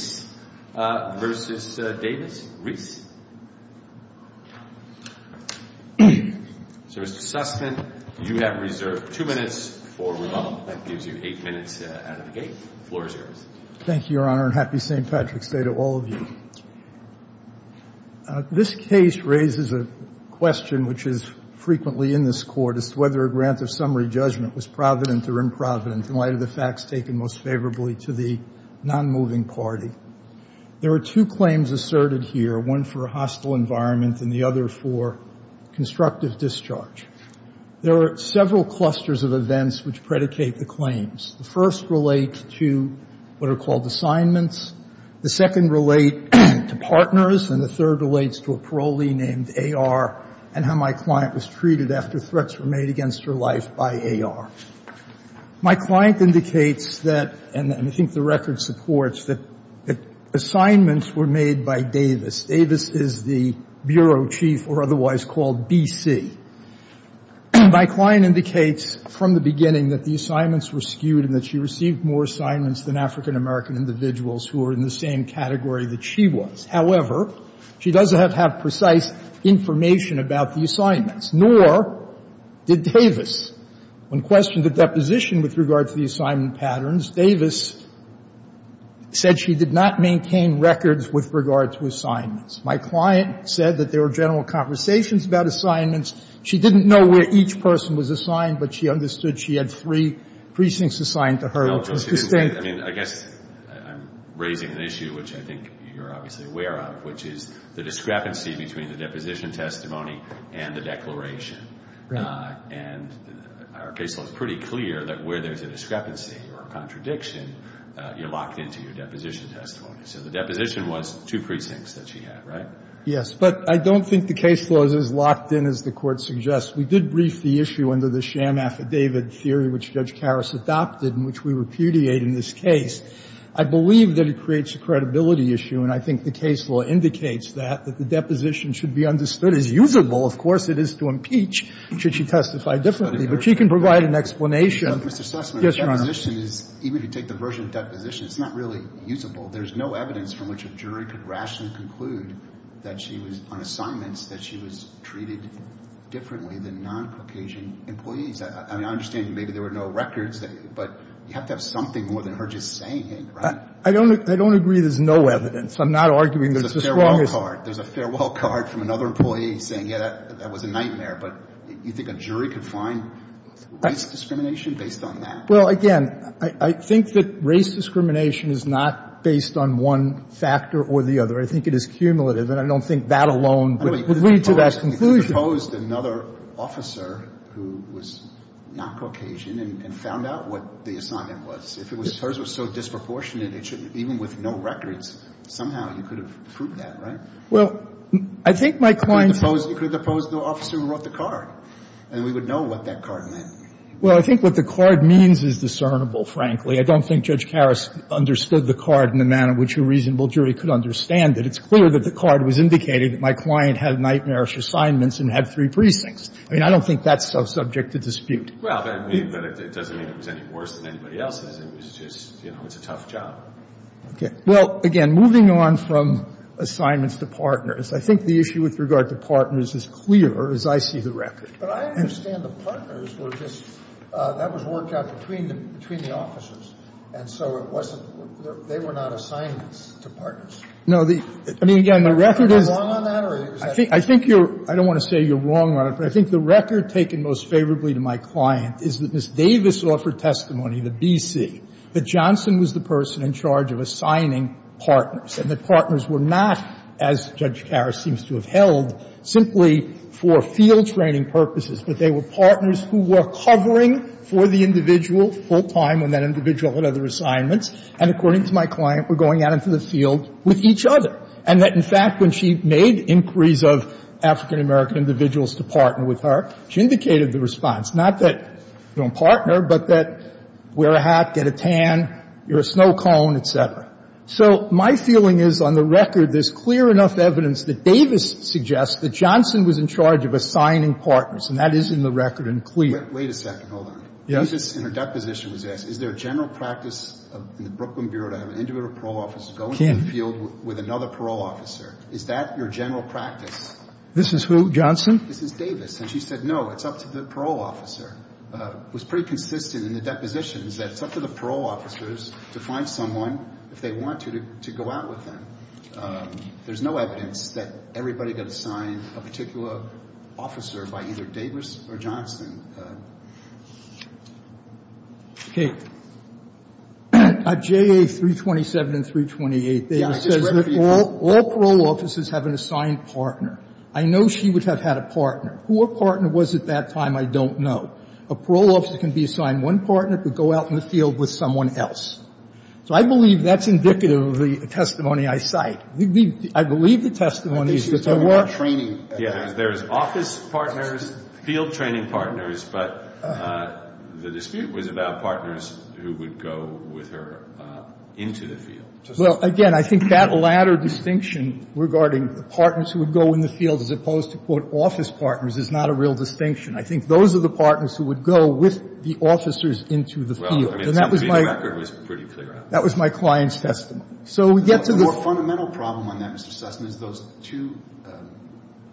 Thank you, Your Honor, and happy St. Patrick's Day to all of you. This case raises a question which is frequently in this Court as to whether a grant of summary judgment was provident or improvident in light of the facts taken most favorably to the nonmoving party. There are two claims asserted here, one for a hostile environment and the other for constructive discharge. There are several clusters of events which predicate the claims. The first relates to what are called assignments. The second relate to partners, and the third relates to a parolee named A.R. and how my client was treated after threats were made against her life by A.R. My client indicates that, and I think the record supports, that assignments were made by Davis. Davis is the bureau chief, or otherwise called B.C. My client indicates from the beginning that the assignments were skewed and that she received more assignments than African-American individuals who were in the same category that she was. However, she doesn't have precise information about the assignments, nor did Davis. When questioned at deposition with regard to the assignment patterns, Davis said she did not maintain records with regard to assignments. My client said that there were general conversations about assignments. She didn't know where each person was assigned, but she understood she had three precincts assigned to her, which was distinct. I mean, I guess I'm raising an issue which I think you're obviously aware of, which is the discrepancy between the deposition testimony and the declaration. And our case law is pretty clear that where there's a discrepancy or a contradiction, you're locked into your deposition testimony. So the deposition was two precincts that she had, right? Yes. But I don't think the case law is as locked in as the Court suggests. We did brief the issue under the sham affidavit theory which Judge Karas adopted and which we repudiate in this case. I believe that it creates a credibility issue, and I think the case law indicates that, that the deposition should be understood as usable. Of course, it is to impeach should she testify differently, but she can provide an explanation. Even if you take the version of deposition, it's not really usable. There's no evidence from which a jury could rationally conclude that she was, on assignments, that she was treated differently than non-Caucasian employees. I mean, I understand maybe there were no records, but you have to have something more than her just saying it, right? I don't agree there's no evidence. I'm not arguing there's a strong assertion. There's a farewell card from another employee saying, yeah, that was a nightmare. But you think a jury could find race discrimination based on that? Well, again, I think that race discrimination is not based on one factor or the other. I think it is cumulative, and I don't think that alone would lead to that conclusion. If you proposed another officer who was not Caucasian and found out what the assignment was, if hers was so disproportionate, even with no records, somehow you could have proved that, right? Well, I think my client's ---- You could have deposed the officer who wrote the card, and we would know what that card meant. Well, I think what the card means is discernible, frankly. I don't think Judge Karas understood the card in the manner in which a reasonable jury could understand it. It's clear that the card was indicating that my client had nightmarish assignments and had three precincts. I mean, I don't think that's subject to dispute. Well, that means that it doesn't mean it was any worse than anybody else's. It was just, you know, it's a tough job. Okay. Well, again, moving on from assignments to partners, I think the issue with regard to partners is clear, as I see the record. But I understand the partners were just ---- that was worked out between the officers, and so it wasn't ---- they were not assignments to partners. No, the ---- I mean, again, the record is ---- Am I wrong on that, or is that ---- I think you're ---- I don't want to say you're wrong on it, but I think the record is clear that the partners were not assignments to partners. They were partners who were covering for the individual full-time when that individual had other assignments and, according to my client, were going out into the field with each other. And that, in fact, when she made inquiries of African-American individuals to partner with her, she ended up covering for the individual full-time when that indicated the response, not that you don't partner, but that wear a hat, get a tan, you're a snow cone, et cetera. So my feeling is, on the record, there's clear enough evidence that Davis suggests that Johnson was in charge of assigning partners, and that is in the record and clear. Wait a second. Hold on. Yes. In her deposition, it was asked, is there a general practice in the Brooklyn Bureau to have an individual parole officer go into the field with another parole officer? Is that your general practice? This is who, Johnson? This is Davis. And she said, no, it's up to the parole officer. It was pretty consistent in the depositions that it's up to the parole officers to find someone, if they want to, to go out with them. There's no evidence that everybody got assigned a particular officer by either Davis or Johnson. At JA 327 and 328, Davis says that all parole officers have an assigned partner. I know she would have had a partner. Who a partner was at that time, I don't know. A parole officer can be assigned one partner, but go out in the field with someone else. So I believe that's indicative of the testimony I cite. I believe the testimony is that there were no training. There's office partners, field training partners, but the dispute was about partners who would go with her into the field. Well, again, I think that latter distinction regarding the partners who would go in the field, as opposed to, quote, office partners, is not a real distinction. I think those are the partners who would go with the officers into the field. And that was my client's testimony. So we get to the ---- The more fundamental problem on that, Mr. Sessom, is those two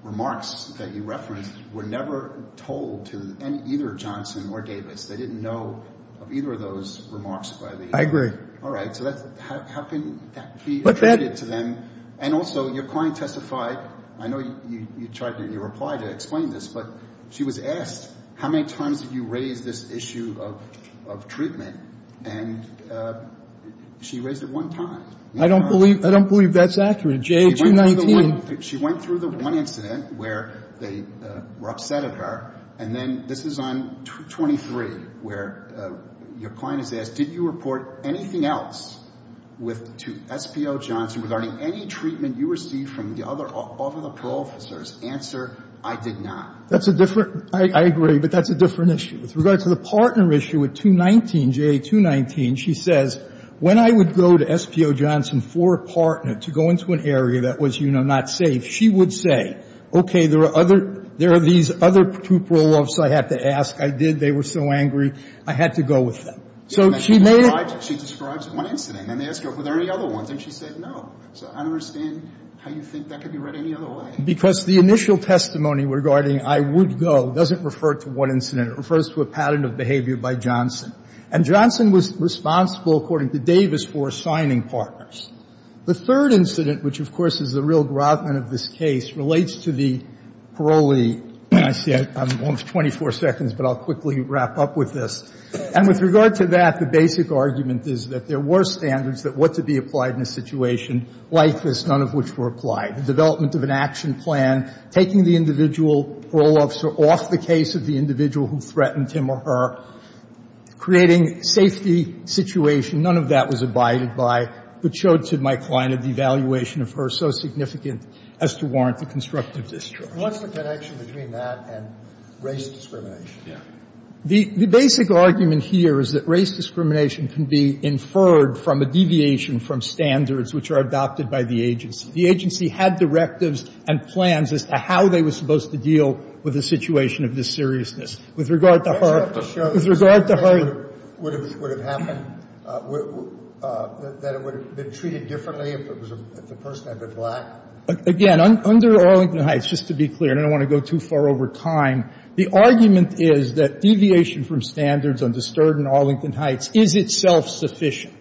remarks that you referenced were never told to either Johnson or Davis. They didn't know of either of those remarks by the ---- I agree. All right. So how can that be attributed to them? And also, your client testified, I know you tried to reply to explain this, but she was asked how many times did you raise this issue of treatment, and she raised it one time. I don't believe that's accurate, J-219. She went through the one incident where they were upset at her, and then this is on 23, where your client is asked, did you report anything else to SPO Johnson regarding any treatment you received from the other parole officers? Answer, I did not. That's a different ---- I agree, but that's a different issue. With regard to the partner issue at 219, J-219, she says, when I would go to SPO Johnson for a partner to go into an area that was, you know, not safe, she would say, okay, there are other ---- there are these other two parole officers I have to ask. I did. They were so angry. I had to go with them. So she made a ---- She describes one incident, and they ask her, were there any other ones? And she said no. So I don't understand how you think that could be read any other way. Because the initial testimony regarding I would go doesn't refer to one incident. It refers to a pattern of behavior by Johnson. And Johnson was responsible, according to Davis, for assigning partners. The third incident, which, of course, is the real grotman of this case, relates to the parolee. I see I'm almost 24 seconds, but I'll quickly wrap up with this. And with regard to that, the basic argument is that there were standards that were to be applied in a situation like this, none of which were applied. The development of an action plan, taking the individual parole officer off the case of the individual who threatened him or her, creating safety situation, none of that was abided by, but showed to my client a devaluation of her so significant as to warrant the constructive discharge. Sotomayor, What's the connection between that and race discrimination? The basic argument here is that race discrimination can be inferred from a deviation from standards which are adopted by the agency. The agency had directives and plans as to how they were supposed to deal with a situation of this seriousness. With regard to her — I just have to show that the same thing would have happened, that it would have been treated differently if the person had been black. Again, under Arlington Heights, just to be clear, and I don't want to go too far over time, the argument is that deviation from standards undisturbed in Arlington Heights is itself sufficient.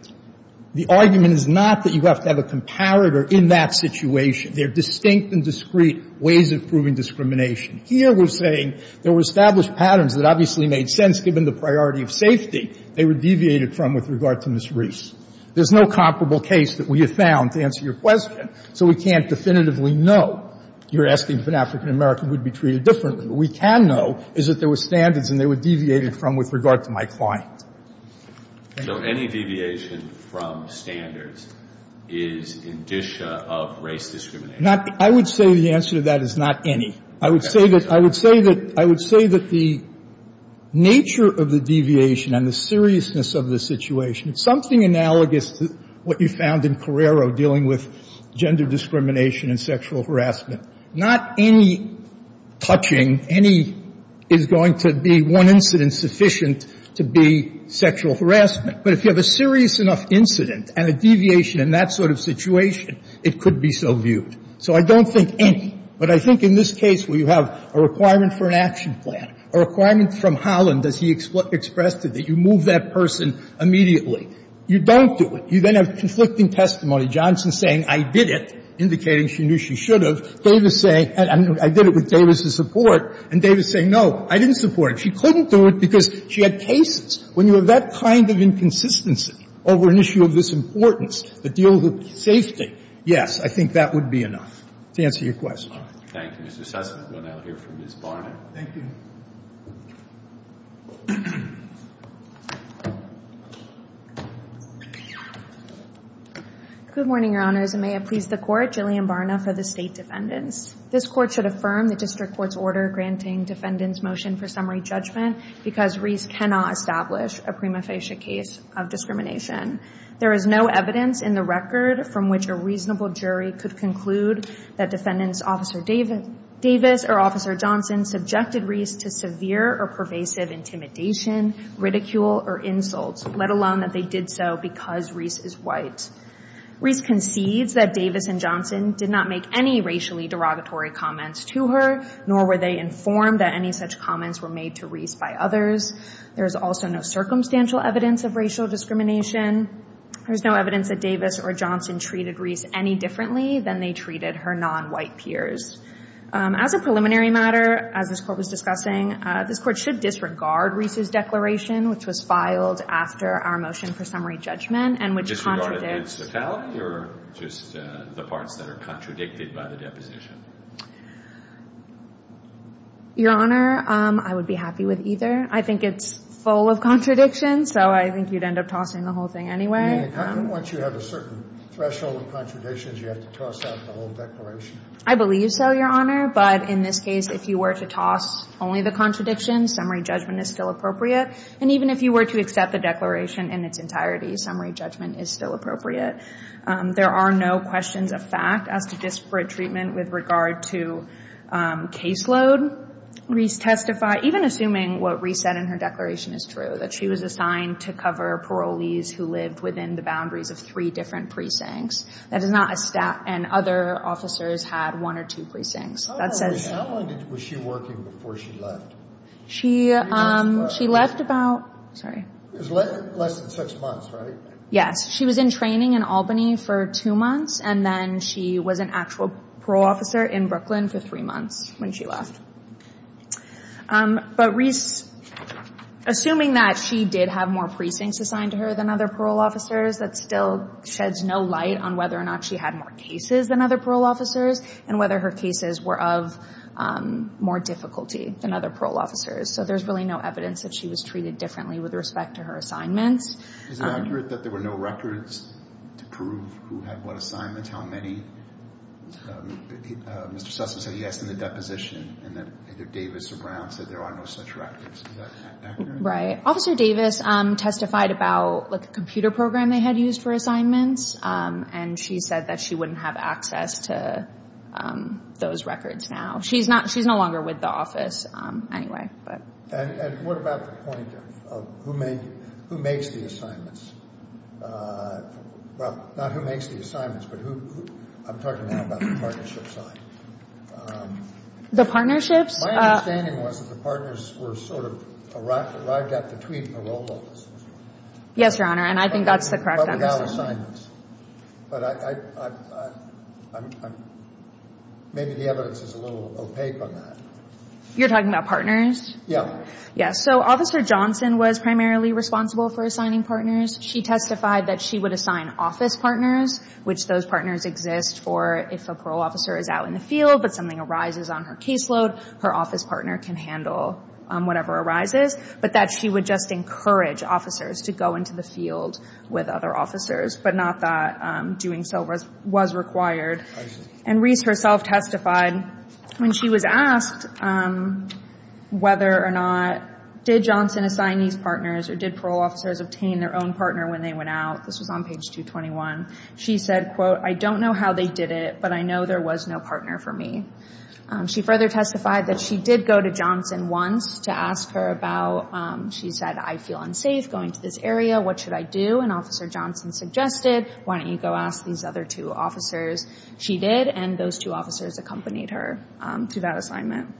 The argument is not that you have to have a comparator in that situation. There are distinct and discreet ways of proving discrimination. Here we're saying there were established patterns that obviously made sense, given the priority of safety, they were deviated from with regard to Ms. Reese. There's no comparable case that we have found, to answer your question, so we can't definitively know you're asking if an African-American would be treated differently. What we can know is that there were standards and they were deviated from with regard to my client. So any deviation from standards is indicia of race discrimination? Not — I would say the answer to that is not any. I would say that — I would say that — I would say that the nature of the deviation and the seriousness of the situation, it's something analogous to what you found in Carrero dealing with gender discrimination and sexual harassment. Not any touching, any — is going to be one incident sufficient to be sexual harassment. But if you have a serious enough incident and a deviation in that sort of situation, it could be so viewed. So I don't think any. But I think in this case where you have a requirement for an action plan, a requirement from Holland as he expressed it, that you move that person immediately. You don't do it. You then have conflicting testimony. Johnson saying, I did it, indicating she knew she should have. Davis saying, I did it with Davis's support. And Davis saying, no, I didn't support it. She couldn't do it because she had cases. When you have that kind of inconsistency over an issue of this importance, the deal with safety, yes, I think that would be enough to answer your question. Thank you, Mr. Sessom. We'll now hear from Ms. Barnett. Thank you. Good morning, Your Honors. And may it please the Court, Gillian Barnett for the state defendants. This court should affirm the district court's order granting defendants motion for summary judgment because Reese cannot establish a prima facie case of discrimination. There is no evidence in the record from which a reasonable jury could conclude that defendants Officer Davis or Officer Johnson subjected Reese to severe or pervasive intimidation, ridicule, or insults, let alone that they did so because Reese is white. Reese concedes that Davis and Johnson did not make any racially derogatory comments to her, nor were they informed that any such comments were made to Reese by others. There is also no circumstantial evidence of racial discrimination. There's no evidence that Davis or Johnson treated Reese any differently than they treated her non-white peers. As a preliminary matter, as this court was discussing, this court should disregard Reese's declaration, which was filed after our motion for summary judgment, and which contradicts. Disregard its totality, or just the parts that are contradicted by the deposition? Your Honor, I would be happy with either. I think it's full of contradictions, so I think you'd end up tossing the whole thing anyway. I mean, once you have a certain threshold of contradictions, you have to toss out the whole declaration. I believe so, Your Honor. But in this case, if you were to toss only the contradictions, summary judgment is still appropriate. And even if you were to accept the declaration in its entirety, summary judgment is still appropriate. There are no questions of fact as to disparate treatment with regard to caseload. Reese testified, even assuming what Reese said in her declaration is true, that she was assigned to cover parolees who lived within the boundaries of three different precincts. That is not a stat. And other officers had one or two precincts. How long was she working before she left? She left about, sorry. Less than six months, right? Yes, she was in training in Albany for two months, and then she was an actual parole officer in Brooklyn for three months when she left. But Reese, assuming that she did have more precincts assigned to her than other parole officers, that still sheds no light on whether or not she had more cases than other parole officers and whether her cases were of more difficulty than other parole officers. So there's really no evidence that she was treated differently with respect to her assignments. Is it accurate that there were no records to prove who had what assignments, how many? Mr. Sussman said yes in the deposition, and that either Davis or Brown said there are no such records. Is that accurate? Right. Officer Davis testified about a computer program they had used for assignments, and she said that she wouldn't have access to those records now. She's not she's no longer with the office anyway. And what about the point of who makes the assignments? Well, not who makes the assignments, but I'm talking now about the partnerships. The partnerships? My understanding was that the partners were sort of arrived at between parole officers. Yes, Your Honor, and I think that's the correct understanding. But without assignments. But maybe the evidence is a little opaque on that. You're talking about partners? Yeah. Yes, so Officer Johnson was primarily responsible for assigning partners. She testified that she would assign office partners, which those partners exist for if a parole officer is out in the field, but something arises on her caseload, her office partner can handle whatever arises. But that she would just encourage officers to go into the field with other officers, but not that doing so was required. And Reese herself testified when she was asked whether or not did Johnson assign these partners, or did parole officers obtain their own partner when they went out? This was on page 221. She said, quote, I don't know how they did it, but I know there was no partner for me. She further testified that she did go to Johnson once to ask her about, she said, I feel unsafe going to this area, what should I do? And Officer Johnson suggested, why don't you go ask these other two officers? She did, and those two officers accompanied her to that assignment.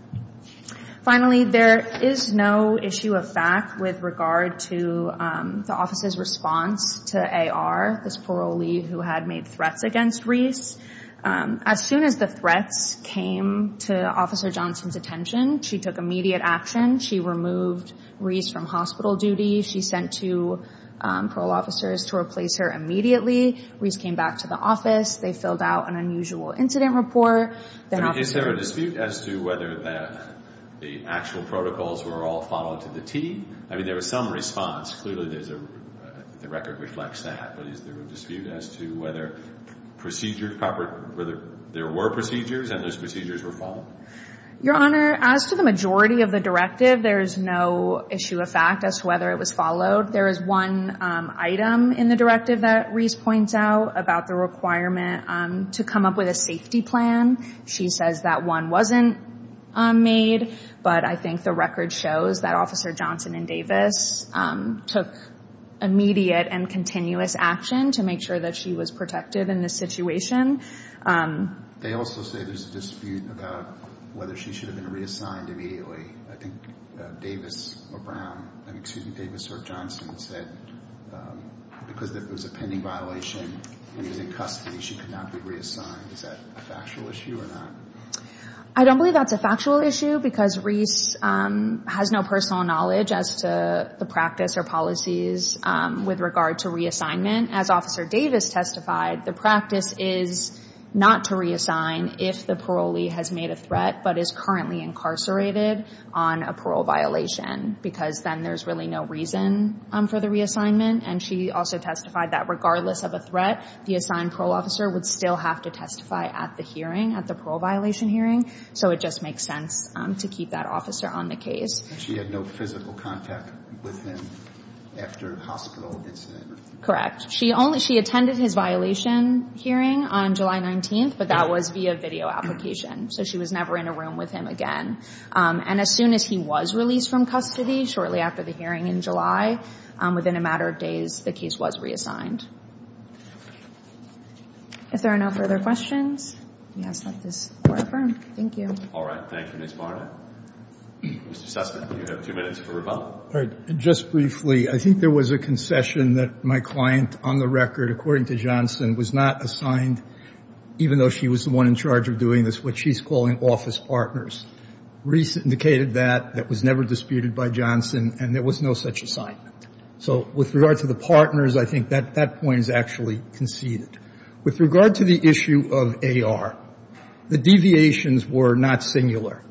Finally, there is no issue of fact with regard to the office's response to AR, this parolee who had made threats against Reese. As soon as the threats came to Officer Johnson's attention, she took immediate action. She removed Reese from hospital duty. She sent two parole officers to replace her immediately. Reese came back to the office. They filled out an unusual incident report. Is there a dispute as to whether the actual protocols were all followed to the T? I mean, there was some response. Clearly, the record reflects that. But is there a dispute as to whether there were procedures and those procedures were followed? Your Honor, as to the majority of the directive, there is no issue of fact as to whether it was followed. There is one item in the directive that Reese points out about the requirement to come up with a safety plan. She says that one wasn't made, but I think the record shows that Officer Johnson and Davis took immediate and continuous action to make sure that she was protected in this situation. They also say there's a dispute about whether she should have been reassigned immediately. I think Davis or Brown, excuse me, Davis or Johnson said because it was a pending violation and she was in custody, she could not be reassigned. Is that a factual issue or not? I don't believe that's a factual issue because Reese has no personal knowledge as to the practice or policies with regard to reassignment. As Officer Davis testified, the practice is not to reassign if the parolee has made a threat but is currently incarcerated on a parole violation because then there's really no reason for the reassignment. And she also testified that regardless of a threat, the assigned parole officer would still have to testify at the hearing, at the parole violation hearing. So it just makes sense to keep that officer on the case. She had no physical contact with him after the hospital incident? Correct. She attended his violation hearing on July 19, but that was via video application. So she was never in a room with him again. And as soon as he was released from custody, shortly after the hearing in July, within a matter of days, the case was reassigned. If there are no further questions, we ask that this be confirmed. Thank you. All right. Thank you, Ms. Barnett. Mr. Sussman, you have two minutes for rebuttal. Just briefly, I think there was a concession that my client, on the record, according to Johnson, was not assigned, even though she was the one in charge of doing this, what she's calling office partners. Reese indicated that that was never disputed by Johnson, and there was no such assignment. So with regard to the partners, I think that point is actually conceded. With regard to the issue of AR, the deviations were not singular.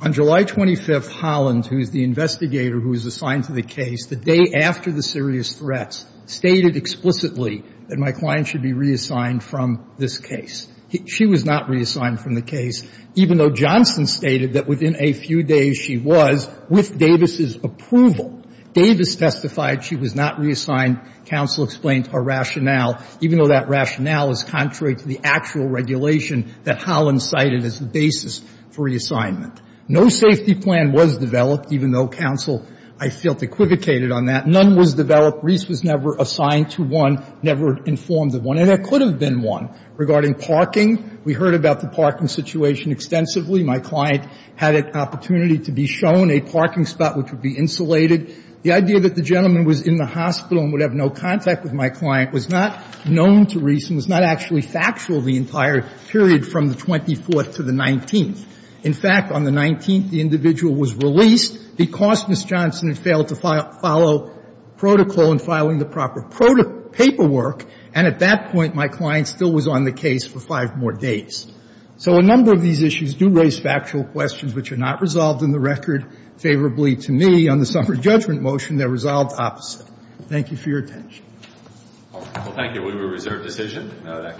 On July 25, Holland, who is the investigator who is assigned to the case, the day after the serious threats, stated explicitly that my client should be reassigned from this case. She was not reassigned from the case, even though Johnson stated that within a few days she was, with Davis's approval. Davis testified she was not reassigned. Counsel explained her rationale, even though that rationale is contrary to the actual regulation that Holland cited as the basis for reassignment. No safety plan was developed, even though counsel, I felt, equivocated on that. None was developed. Reese was never assigned to one, never informed of one. And there could have been one. Regarding parking, we heard about the parking situation extensively. My client had an opportunity to be shown a parking spot which would be insulated. The idea that the gentleman was in the hospital and would have no contact with my client was not known to Reese and was not actually factual the entire period from the 24th to the 19th. In fact, on the 19th, the individual was released because Ms. Johnson had failed to follow protocol in filing the proper paperwork. And at that point, my client still was on the case for five more days. So a number of these issues do raise factual questions which are not resolved in the record favorably to me. On the summary judgment motion, they're resolved opposite. Thank you for your attention. Well, thank you. We have a reserved decision.